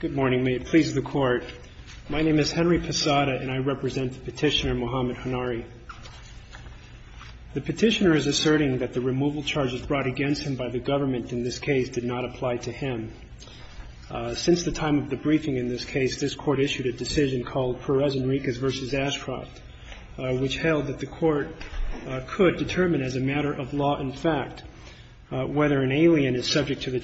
Good morning. May it please the Court. My name is Henry Posada and I represent the petitioner Mohamed Honari. The petitioner is asserting that the removal charges brought against him by the government in this case did not apply to him. Since the time of the briefing in this case, this Court issued a decision called Perez Enriquez v. Ashcroft, which held that the Court could determine as a matter of law and fact whether an alien is subject to the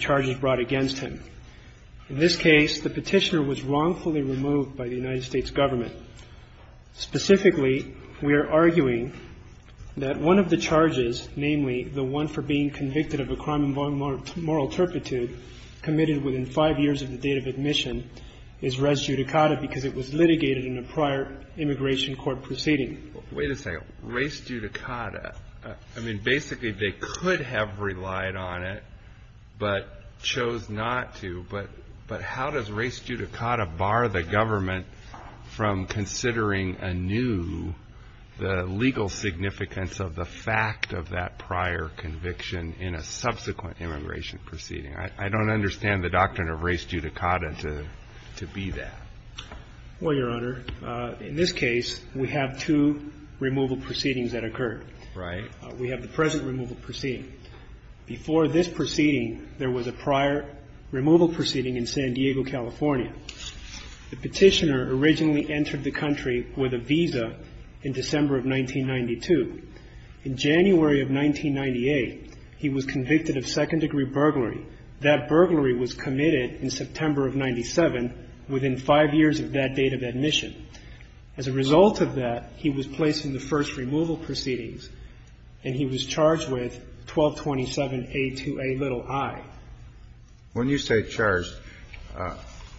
case, the petitioner was wrongfully removed by the United States government. Specifically, we are arguing that one of the charges, namely, the one for being convicted of a crime of moral turpitude committed within five years of the date of admission, is res judicata because it was litigated in a prior immigration court proceeding. HONARI Wait a second. Res judicata? I mean, basically, they could have relied on it but chose not to. But how does res judicata bar the government from considering anew the legal significance of the fact of that prior conviction in a subsequent immigration proceeding? I don't understand the doctrine of res judicata to be that. ASHCROFT Well, Your Honor, in this case, we have two removal proceedings that occurred. HONARI Right. ASHCROFT We have the present removal proceeding. Before this proceeding, there was a prior removal proceeding in San Diego, California. The petitioner originally entered the country with a visa in December of 1992. In January of 1998, he was convicted of second-degree burglary. That burglary was committed in September of 1997 within five years of that date of And he was charged with 1227A2A little I. KENNEDY When you say charged,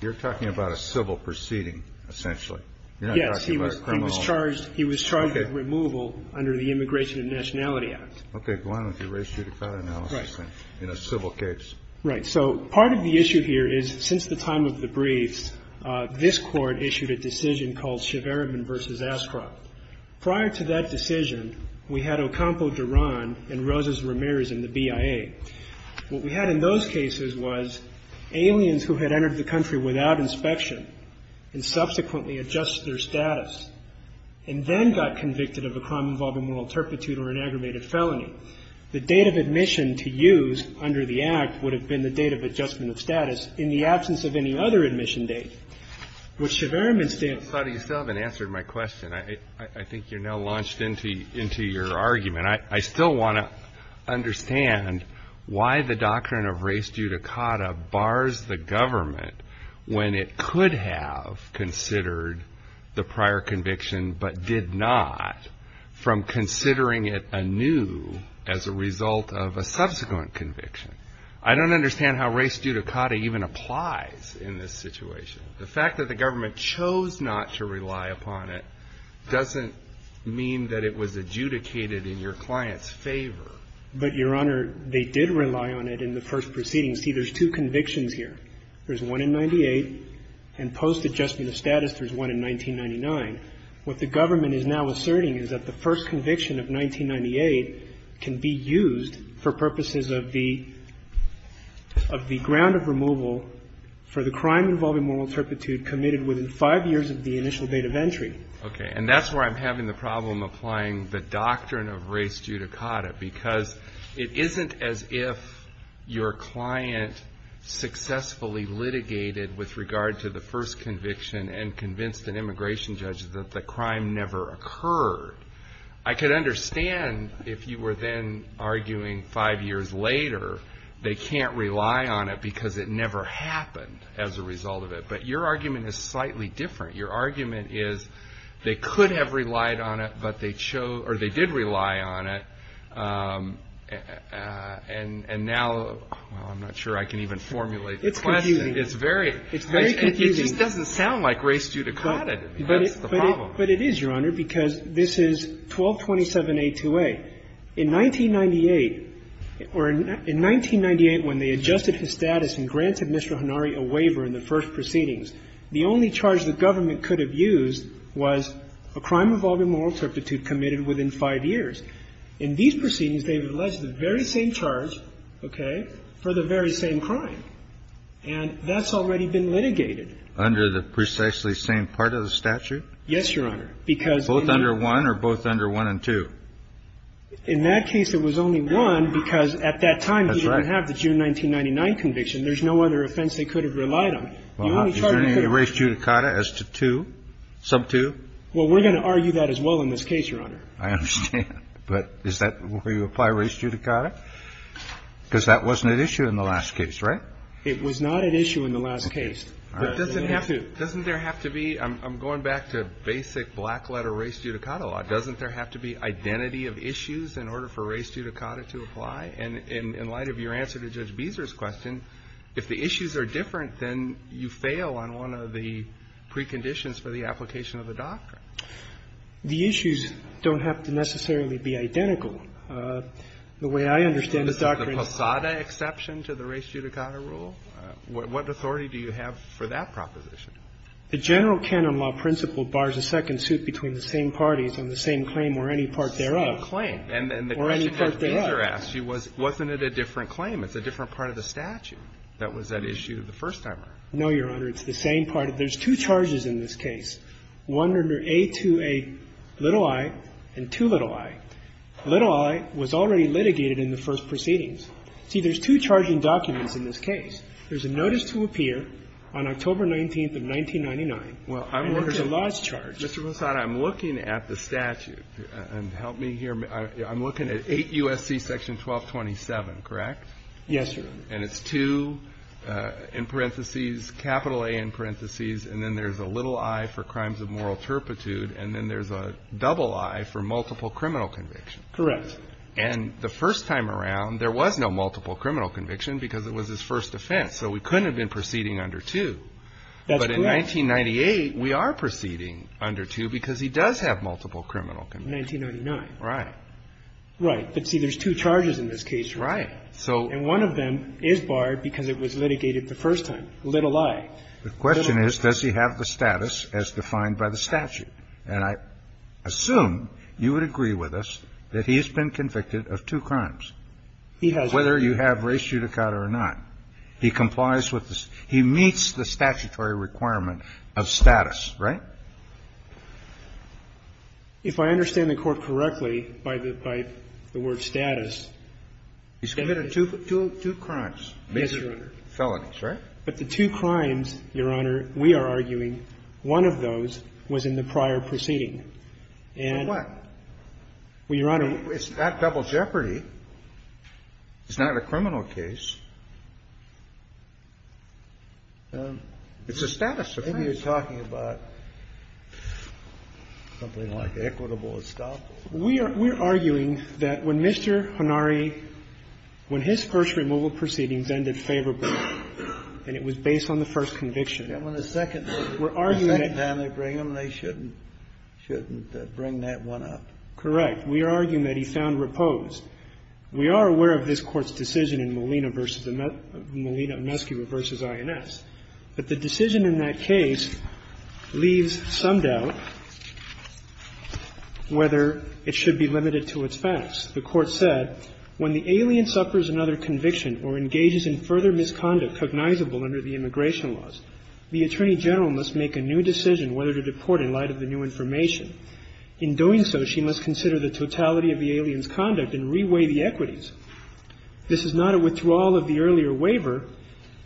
you're talking about a civil proceeding, essentially. You're not talking about a criminal. ASHCROFT Yes. He was charged with removal under the Immigration and Nationality Act. KENNEDY Okay. Go on with your res judicata analysis then. In a civil case. ASHCROFT Right. So part of the issue here is, since the time of the briefs, this Court issued a decision called Cheverman v. Ashcroft. Prior to that decision, we had Ocampo Duran and Rosas Ramirez in the BIA. What we had in those cases was aliens who had entered the country without inspection and subsequently adjusted their status and then got convicted of a crime involving moral turpitude or an aggravated felony. The date of admission to use under the Act would have been the date of adjustment of status in the absence of any other admission date. With Cheverman's date KENNEDY You still haven't answered my question. I think you're now launched into your argument. I still want to understand why the doctrine of res judicata bars the government when it could have considered the prior conviction but did not from considering it anew as a result of a subsequent conviction. I don't understand how res judicata even applies in this situation. The fact that the was adjudicated in your client's favor. But, Your Honor, they did rely on it in the first proceeding. See, there's two convictions here. There's one in 98 and post-adjustment of status there's one in 1999. What the government is now asserting is that the first conviction of 1998 can be used for purposes of the ground of removal for the crime involving moral turpitude committed within five years of the initial date of entry. And that's where I'm having the problem applying the doctrine of res judicata because it isn't as if your client successfully litigated with regard to the first conviction and convinced an immigration judge that the crime never occurred. I could understand if you were then arguing five years later they can't rely on it because it never happened as a result of it. But your argument is slightly different. Your argument is they could have relied on it, but they chose or they did rely on it. And now, I'm not sure I can even formulate the question. It's confusing. It's very confusing. It just doesn't sound like res judicata. That's the problem. But it is, Your Honor, because this is 1227A2A. In 1998 or in 1998 when they adjusted his status and granted Mr. Hanari a waiver in the first proceedings, the only charge the government could have used was a crime involving moral turpitude committed within five years. In these proceedings, they've alleged the very same charge, okay, for the very same crime. And that's already been litigated. Under the precisely same part of the statute? Yes, Your Honor. Both under one or both under one and two? In that case, it was only one because at that time he didn't have the June 1999 conviction. There's no other offense they could have relied on. Is there any res judicata as to two, sub two? Well, we're going to argue that as well in this case, Your Honor. I understand. But is that where you apply res judicata? Because that wasn't at issue in the last case, right? It was not at issue in the last case. Doesn't there have to be, I'm going back to basic black letter res judicata law, doesn't there have to be identity of issues in order for res judicata to apply? And in light of your answer to Judge Beezer's question, if the issues are different, then you fail on one of the preconditions for the application of the doctrine. The issues don't have to necessarily be identical. The way I understand the doctrine is the Posada exception to the res judicata rule. What authority do you have for that proposition? The general canon law principle bars a second suit between the same parties on the same claim or any part thereof. Same claim. And the question Judge Beezer asked you was, wasn't it a different claim? It's a different part of the statute that was at issue the first time around. No, Your Honor. It's the same part of the issue. There's two charges in this case. One under A2A little i and 2 little i. Little i was already litigated in the first proceedings. See, there's two charging documents in this case. There's a notice to appear on October 19th of 1999. And there's a large charge. Mr. Posada, I'm looking at the statute. And help me here. I'm looking at 8 U.S.C. section 1227, correct? Yes, Your Honor. And it's 2 in parentheses, capital A in parentheses. And then there's a little i for crimes of moral turpitude. And then there's a double i for multiple criminal conviction. Correct. And the first time around, there was no multiple criminal conviction because it was his first offense. So we couldn't have been proceeding under 2. That's correct. But in 1998, we are proceeding under 2 because he does have multiple criminal conviction. 1999. Right. Right. But see, there's two charges in this case. Right. So. And one of them is barred because it was litigated the first time. Little i. The question is, does he have the status as defined by the statute? And I assume you would agree with us that he has been convicted of two crimes. He has. Whether you have race judicata or not, he complies with this. He meets the statutory requirement of status, right? If I understand the Court correctly by the word status. He's committed two crimes. Yes, Your Honor. Felonies, right? But the two crimes, Your Honor, we are arguing one of those was in the prior proceeding. And. So what? Well, Your Honor. It's not double jeopardy. It's not a criminal case. It's a status offense. Maybe you're talking about something like equitable estoppel. We are arguing that when Mr. Hanari, when his first removal proceedings ended favorably, and it was based on the first conviction. And when the second time they bring him, they shouldn't bring that one up. Correct. We are arguing that he found repose. We are aware of this Court's decision in Molina v. I.N.S., but the decision in that case leaves some doubt whether it should be limited to its facts. The Court said, when the alien suffers another conviction or engages in further misconduct cognizable under the immigration laws, the Attorney General must make a new decision whether to deport in light of the new information. In doing so, she must consider the totality of the alien's conduct and reweigh the equities. This is not a withdrawal of the earlier waiver.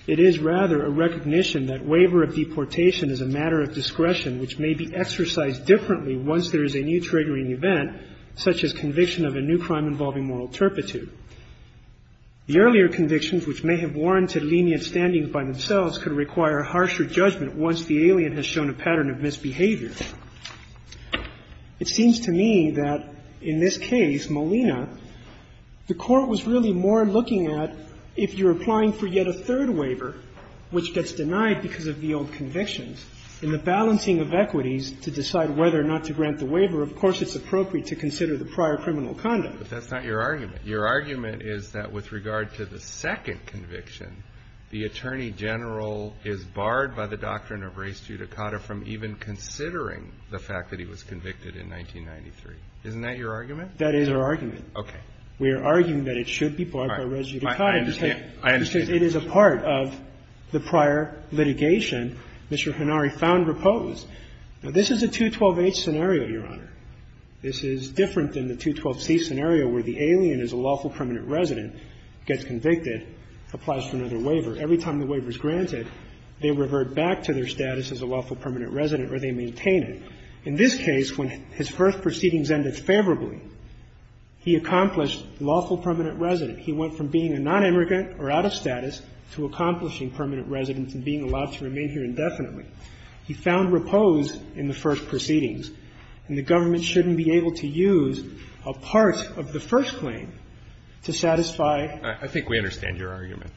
It is rather a recognition that waiver of deportation is a matter of discretion, which may be exercised differently once there is a new triggering event, such as conviction of a new crime involving moral turpitude. The earlier convictions, which may have warranted lenient standings by themselves, could require harsher judgment once the alien has shown a pattern of misbehavior. It seems to me that in this case, Molina, the Court was really more looking at if you're applying for yet a third waiver, which gets denied because of the old convictions, and the balancing of equities to decide whether or not to grant the waiver, of course it's appropriate to consider the prior criminal conduct. But that's not your argument. Your argument is that with regard to the second conviction, the Attorney General is barred by the doctrine of res judicata from even considering the fact that he was convicted in 1993. Isn't that your argument? That is our argument. Okay. We are arguing that it should be barred by res judicata. I understand. I understand. Because it is a part of the prior litigation. Mr. Hanari found repose. Now, this is a 212H scenario, Your Honor. This is different than the 212C scenario where the alien is a lawful permanent resident, gets convicted, applies for another waiver. Every time the waiver is granted, they revert back to their status as a lawful permanent resident or they maintain it. In this case, when his first proceedings ended favorably, he accomplished lawful permanent resident. He went from being a nonimmigrant or out of status to accomplishing permanent residence and being allowed to remain here indefinitely. He found repose in the first proceedings. And the government shouldn't be able to use a part of the first claim to satisfy I think we understand your argument.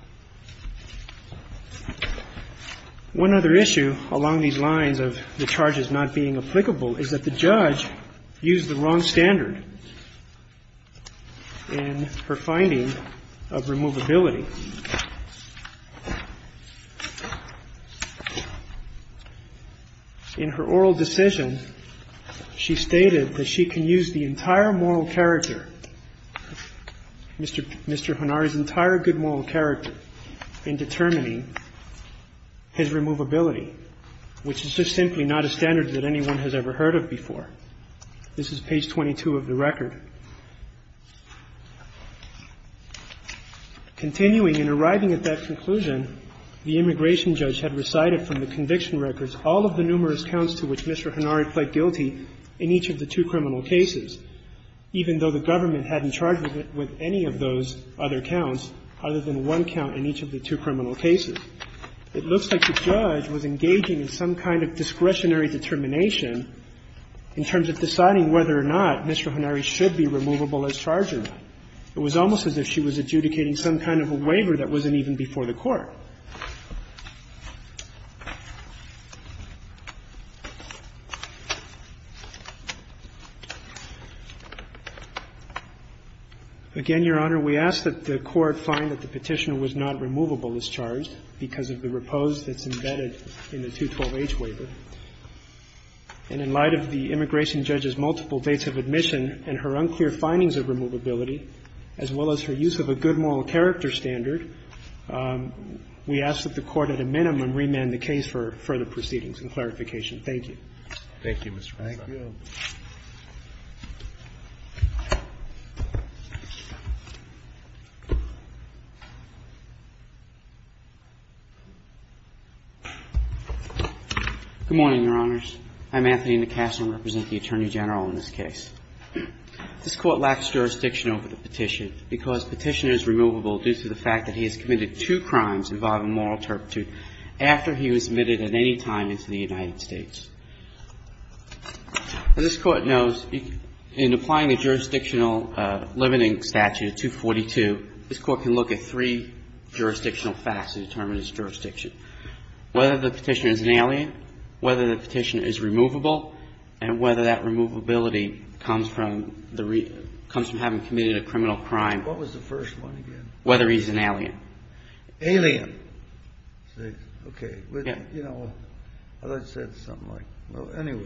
One other issue along these lines of the charges not being applicable is that the judge used the wrong standard in her finding of removability. In her oral decision, she stated that she can use the entire moral character, Mr. Hanari's entire good moral character in determining his removability, which is just simply not a standard that anyone has ever heard of before. This is page 22 of the record. Continuing and arriving at that conclusion, the immigration judge had recited from the conviction records all of the numerous counts to which Mr. Hanari pled guilty in each of the two criminal cases. Even though the government hadn't charged with any of those other counts other than one count in each of the two criminal cases. It looks like the judge was engaging in some kind of discretionary determination in terms of deciding whether or not Mr. Hanari should be removable as charger. It was almost as if she was adjudicating some kind of a waiver that wasn't even before the court. Again, Your Honor, we ask that the court find that the petitioner was not removable as charged because of the repose that's embedded in the 212-H waiver. And in light of the immigration judge's multiple dates of admission and her unclear findings of removability, as well as her use of a good moral character standard, we ask that the court at a minimum remand the case for further proceedings and clarification. Thank you. Thank you, Mr. President. Thank you. Good morning, Your Honors. I'm Anthony McCaslin, representing the Attorney General in this case. This Court lacks jurisdiction over the petition because petitioner is removable due to the fact that he has committed two crimes involving moral turpitude after he was admitted at any time into the United States. And this Court knows in applying the jurisdictional limiting statute of 242, this Court can look at three jurisdictional facts to determine his jurisdiction, whether the petitioner is an alien, whether the petitioner is removable, and whether that removability comes from having committed a criminal crime, whether he's an alien. Alien. Okay. You know, I thought you said something like anyway.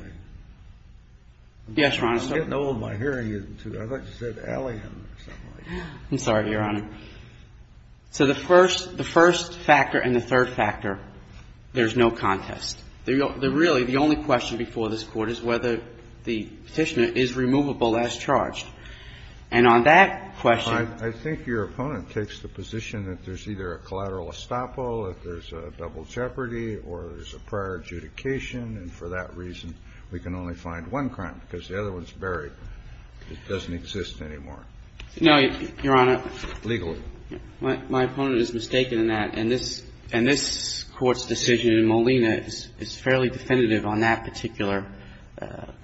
Yes, Your Honor. I'm getting old. My hearing isn't too good. I thought you said alien or something like that. I'm sorry, Your Honor. So the first factor and the third factor, there's no contest. Really, the only question before this Court is whether the petitioner is removable as charged. And on that question ---- I think your opponent takes the position that there's either a collateral estoppel, that there's a double jeopardy, or there's a prior adjudication, and for that reason, we can only find one crime because the other one's buried. It doesn't exist anymore. No, Your Honor. Legally. My opponent is mistaken in that. And this Court's decision in Molina is fairly definitive on that particular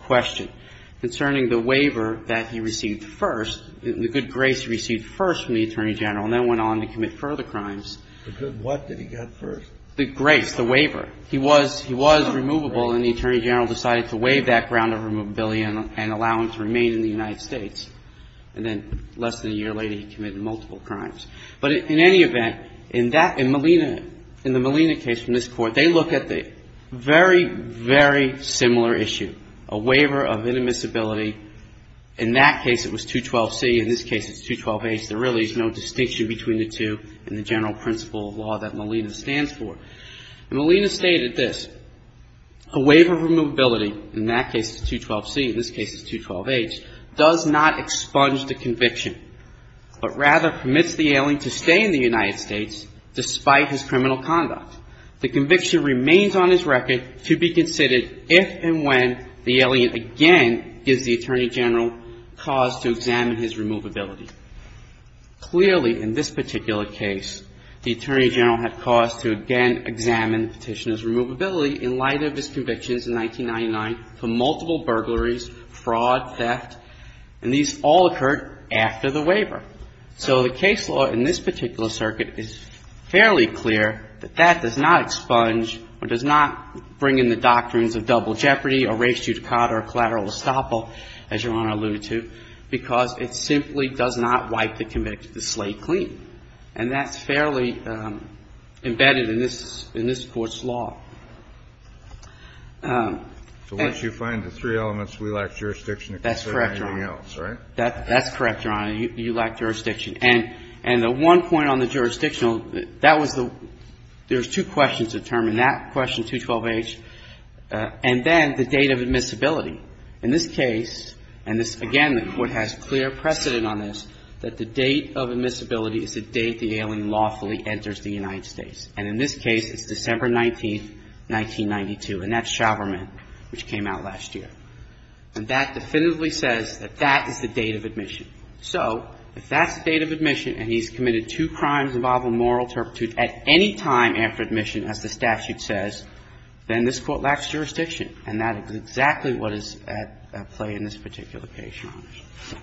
question. And I think it's fair to say that in the case of Molina, it's a very, very similar issue concerning the waiver that he received first, the good grace he received first from the Attorney General, and then went on to commit further crimes. The good what did he get first? The grace, the waiver. He was removable, and the Attorney General decided to waive that ground of removability and allow him to remain in the United States. And then less than a year later, he committed multiple crimes. But in any event, in that ---- in Molina, in the Molina case from this Court, they look at the very, very similar issue, a waiver of inadmissibility. In that case, it was 212C. In this case, it's 212H. There really is no distinction between the two in the general principle of law that Molina stands for. Molina stated this. A waiver of removability, in that case it's 212C, in this case it's 212H, does not expunge the conviction, but rather permits the alien to stay in the United States despite his criminal conduct. The conviction remains on his record to be considered if and when the alien again gives the Attorney General cause to examine his removability. Clearly, in this particular case, the Attorney General had cause to again examine the petitioner's removability in light of his convictions in 1999 for multiple burglaries, fraud, theft, and these all occurred after the waiver. So the case law in this particular circuit is fairly clear that that does not expunge or does not bring in the doctrines of double jeopardy, erased judicata, or collateral estoppel, as Your Honor alluded to, because it simply does not wipe the convict to slay clean, and that's fairly embedded in this Court's law. And so once you find the three elements, we lack jurisdiction to consider anything else, right? That's correct, Your Honor. That's correct, Your Honor. You lack jurisdiction. And the one point on the jurisdictional, that was the – there's two questions to determine that question, 212H, and then the date of admissibility. In this case, and this, again, the Court has clear precedent on this, that the date of admissibility is the date the alien lawfully enters the United States. And in this case, it's December 19th, 1992, and that's Chauverman, which came out last year. And that definitively says that that is the date of admission. So if that's the date of admission and he's committed two crimes involving moral turpitude at any time after admission, as the statute says, then this Court lacks jurisdiction. And that is exactly what is at play in this particular case, Your Honor.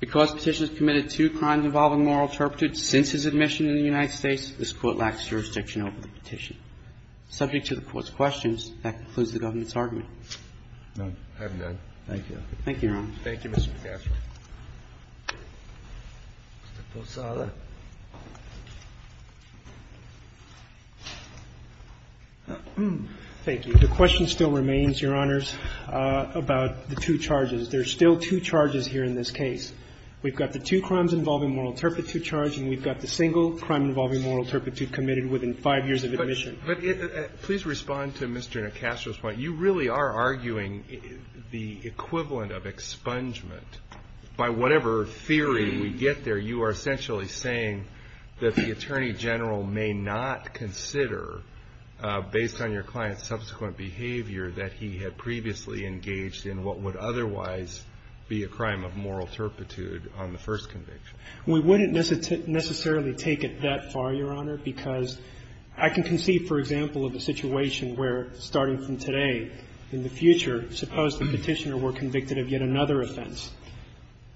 Because the Petitioner has committed two crimes involving moral turpitude since his admission in the United States, this Court lacks jurisdiction over the petition. Subject to the Court's questions, that concludes the government's argument. Thank you, Your Honor. Thank you, Mr. McAffery. Mr. Posada. Thank you. The question still remains, Your Honors, about the two charges. There are still two charges here in this case. We've got the two crimes involving moral turpitude charge, and we've got the single crime involving moral turpitude committed within five years of admission. But please respond to Mr. Nacastro's point. You really are arguing the equivalent of expungement. By whatever theory we get there, you are essentially saying that the Attorney General may not consider, based on your client's subsequent behavior, that he had previously engaged in what would otherwise be a crime of moral turpitude on the first conviction. We wouldn't necessarily take it that far, Your Honor, because I can conceive, for example, of a situation where, starting from today, in the future, suppose the Petitioner were convicted of yet another offense.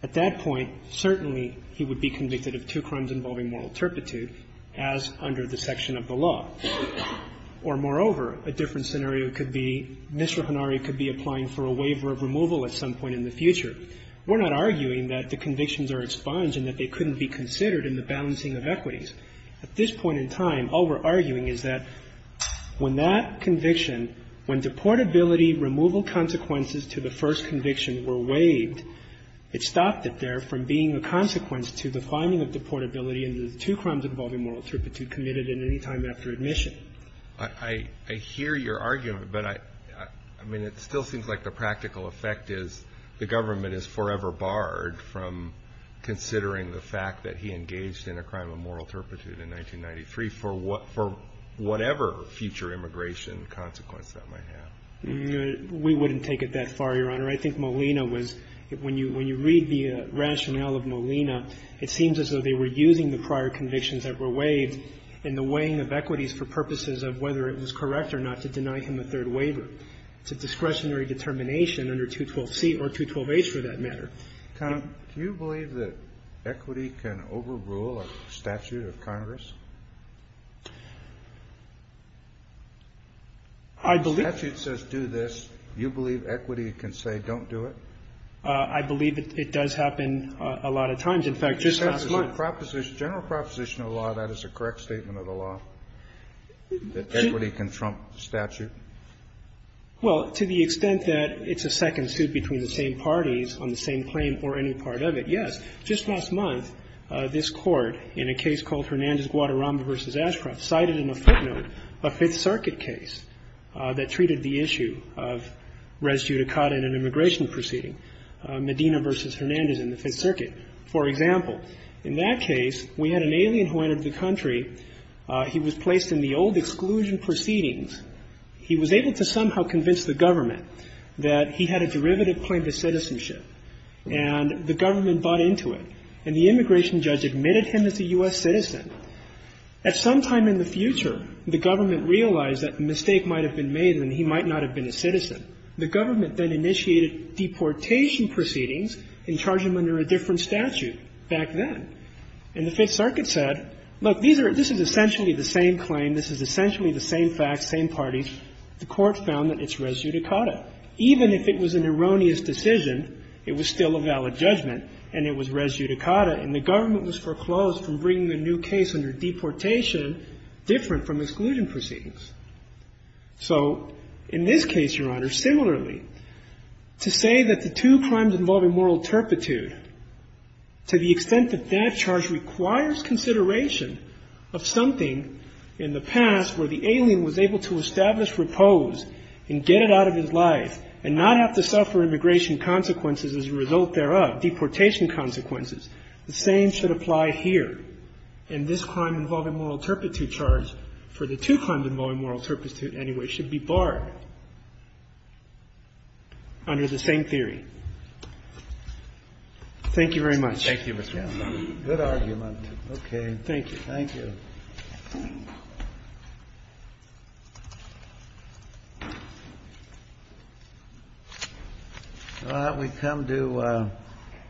At that point, certainly he would be convicted of two crimes involving moral turpitude as under the section of the law. Or, moreover, a different scenario could be Mr. Hanari could be applying for a waiver of removal at some point in the future. We're not arguing that the convictions are expunged and that they couldn't be considered in the balancing of equities. At this point in time, all we're arguing is that when that conviction, when deportability removal consequences to the first conviction were waived, it stopped it there from being a consequence to the finding of deportability in the two crimes involving moral turpitude committed at any time after admission. I hear your argument, but I mean, it still seems like the practical effect is the government is forever barred from considering the fact that he engaged in a crime of moral turpitude in 1993 for whatever future immigration consequence that might have. We wouldn't take it that far, Your Honor. I think Molina was, when you read the rationale of Molina, it seems as though they were using the prior convictions that were waived in the weighing of equities for purposes of whether it was correct or not to deny him a third waiver. It's a discretionary determination under 212C or 212H, for that matter. Kennedy, do you believe that equity can overrule a statute of Congress? I believe the statute says do this. You believe equity can say don't do it? I believe it does happen a lot of times. In fact, just last month. General proposition of the law, that is a correct statement of the law, that equity can trump the statute? Well, to the extent that it's a second suit between the same parties on the same claim or any part of it, yes. Just last month, this Court, in a case called Hernandez-Guadarrama v. Ashcroft, cited in a footnote a Fifth Circuit case that treated the issue of res judicata in an immigration proceeding, Medina v. Hernandez in the Fifth Circuit. For example, in that case, we had an alien who entered the country. He was placed in the old exclusion proceedings. He was able to somehow convince the government that he had a derivative claim to citizenship, and the government bought into it. And the immigration judge admitted him as a U.S. citizen. At some time in the future, the government realized that the mistake might have been made and he might not have been a citizen. The government then initiated deportation proceedings and charged him under a different statute back then. And the Fifth Circuit said, look, these are – this is essentially the same claim, this is essentially the same facts, same parties. The Court found that it's res judicata. Even if it was an erroneous decision, it was still a valid judgment, and it was res judicata, and the government was foreclosed from bringing a new case under deportation different from exclusion proceedings. So in this case, Your Honor, similarly, to say that the two crimes involving moral turpitude, to the extent that that charge requires consideration of something in the past where the alien was able to establish repose and get it out of his life and not have to suffer immigration consequences as a result thereof, deportation consequences, the same should apply here. And this crime involving moral turpitude charge, for the two crimes involving moral turpitude anyway, should be barred under the same theory. Thank you very much. Thank you, Mr. Kessler. Good argument. Okay. Thank you. Thank you. Well, we've come to the end of our time.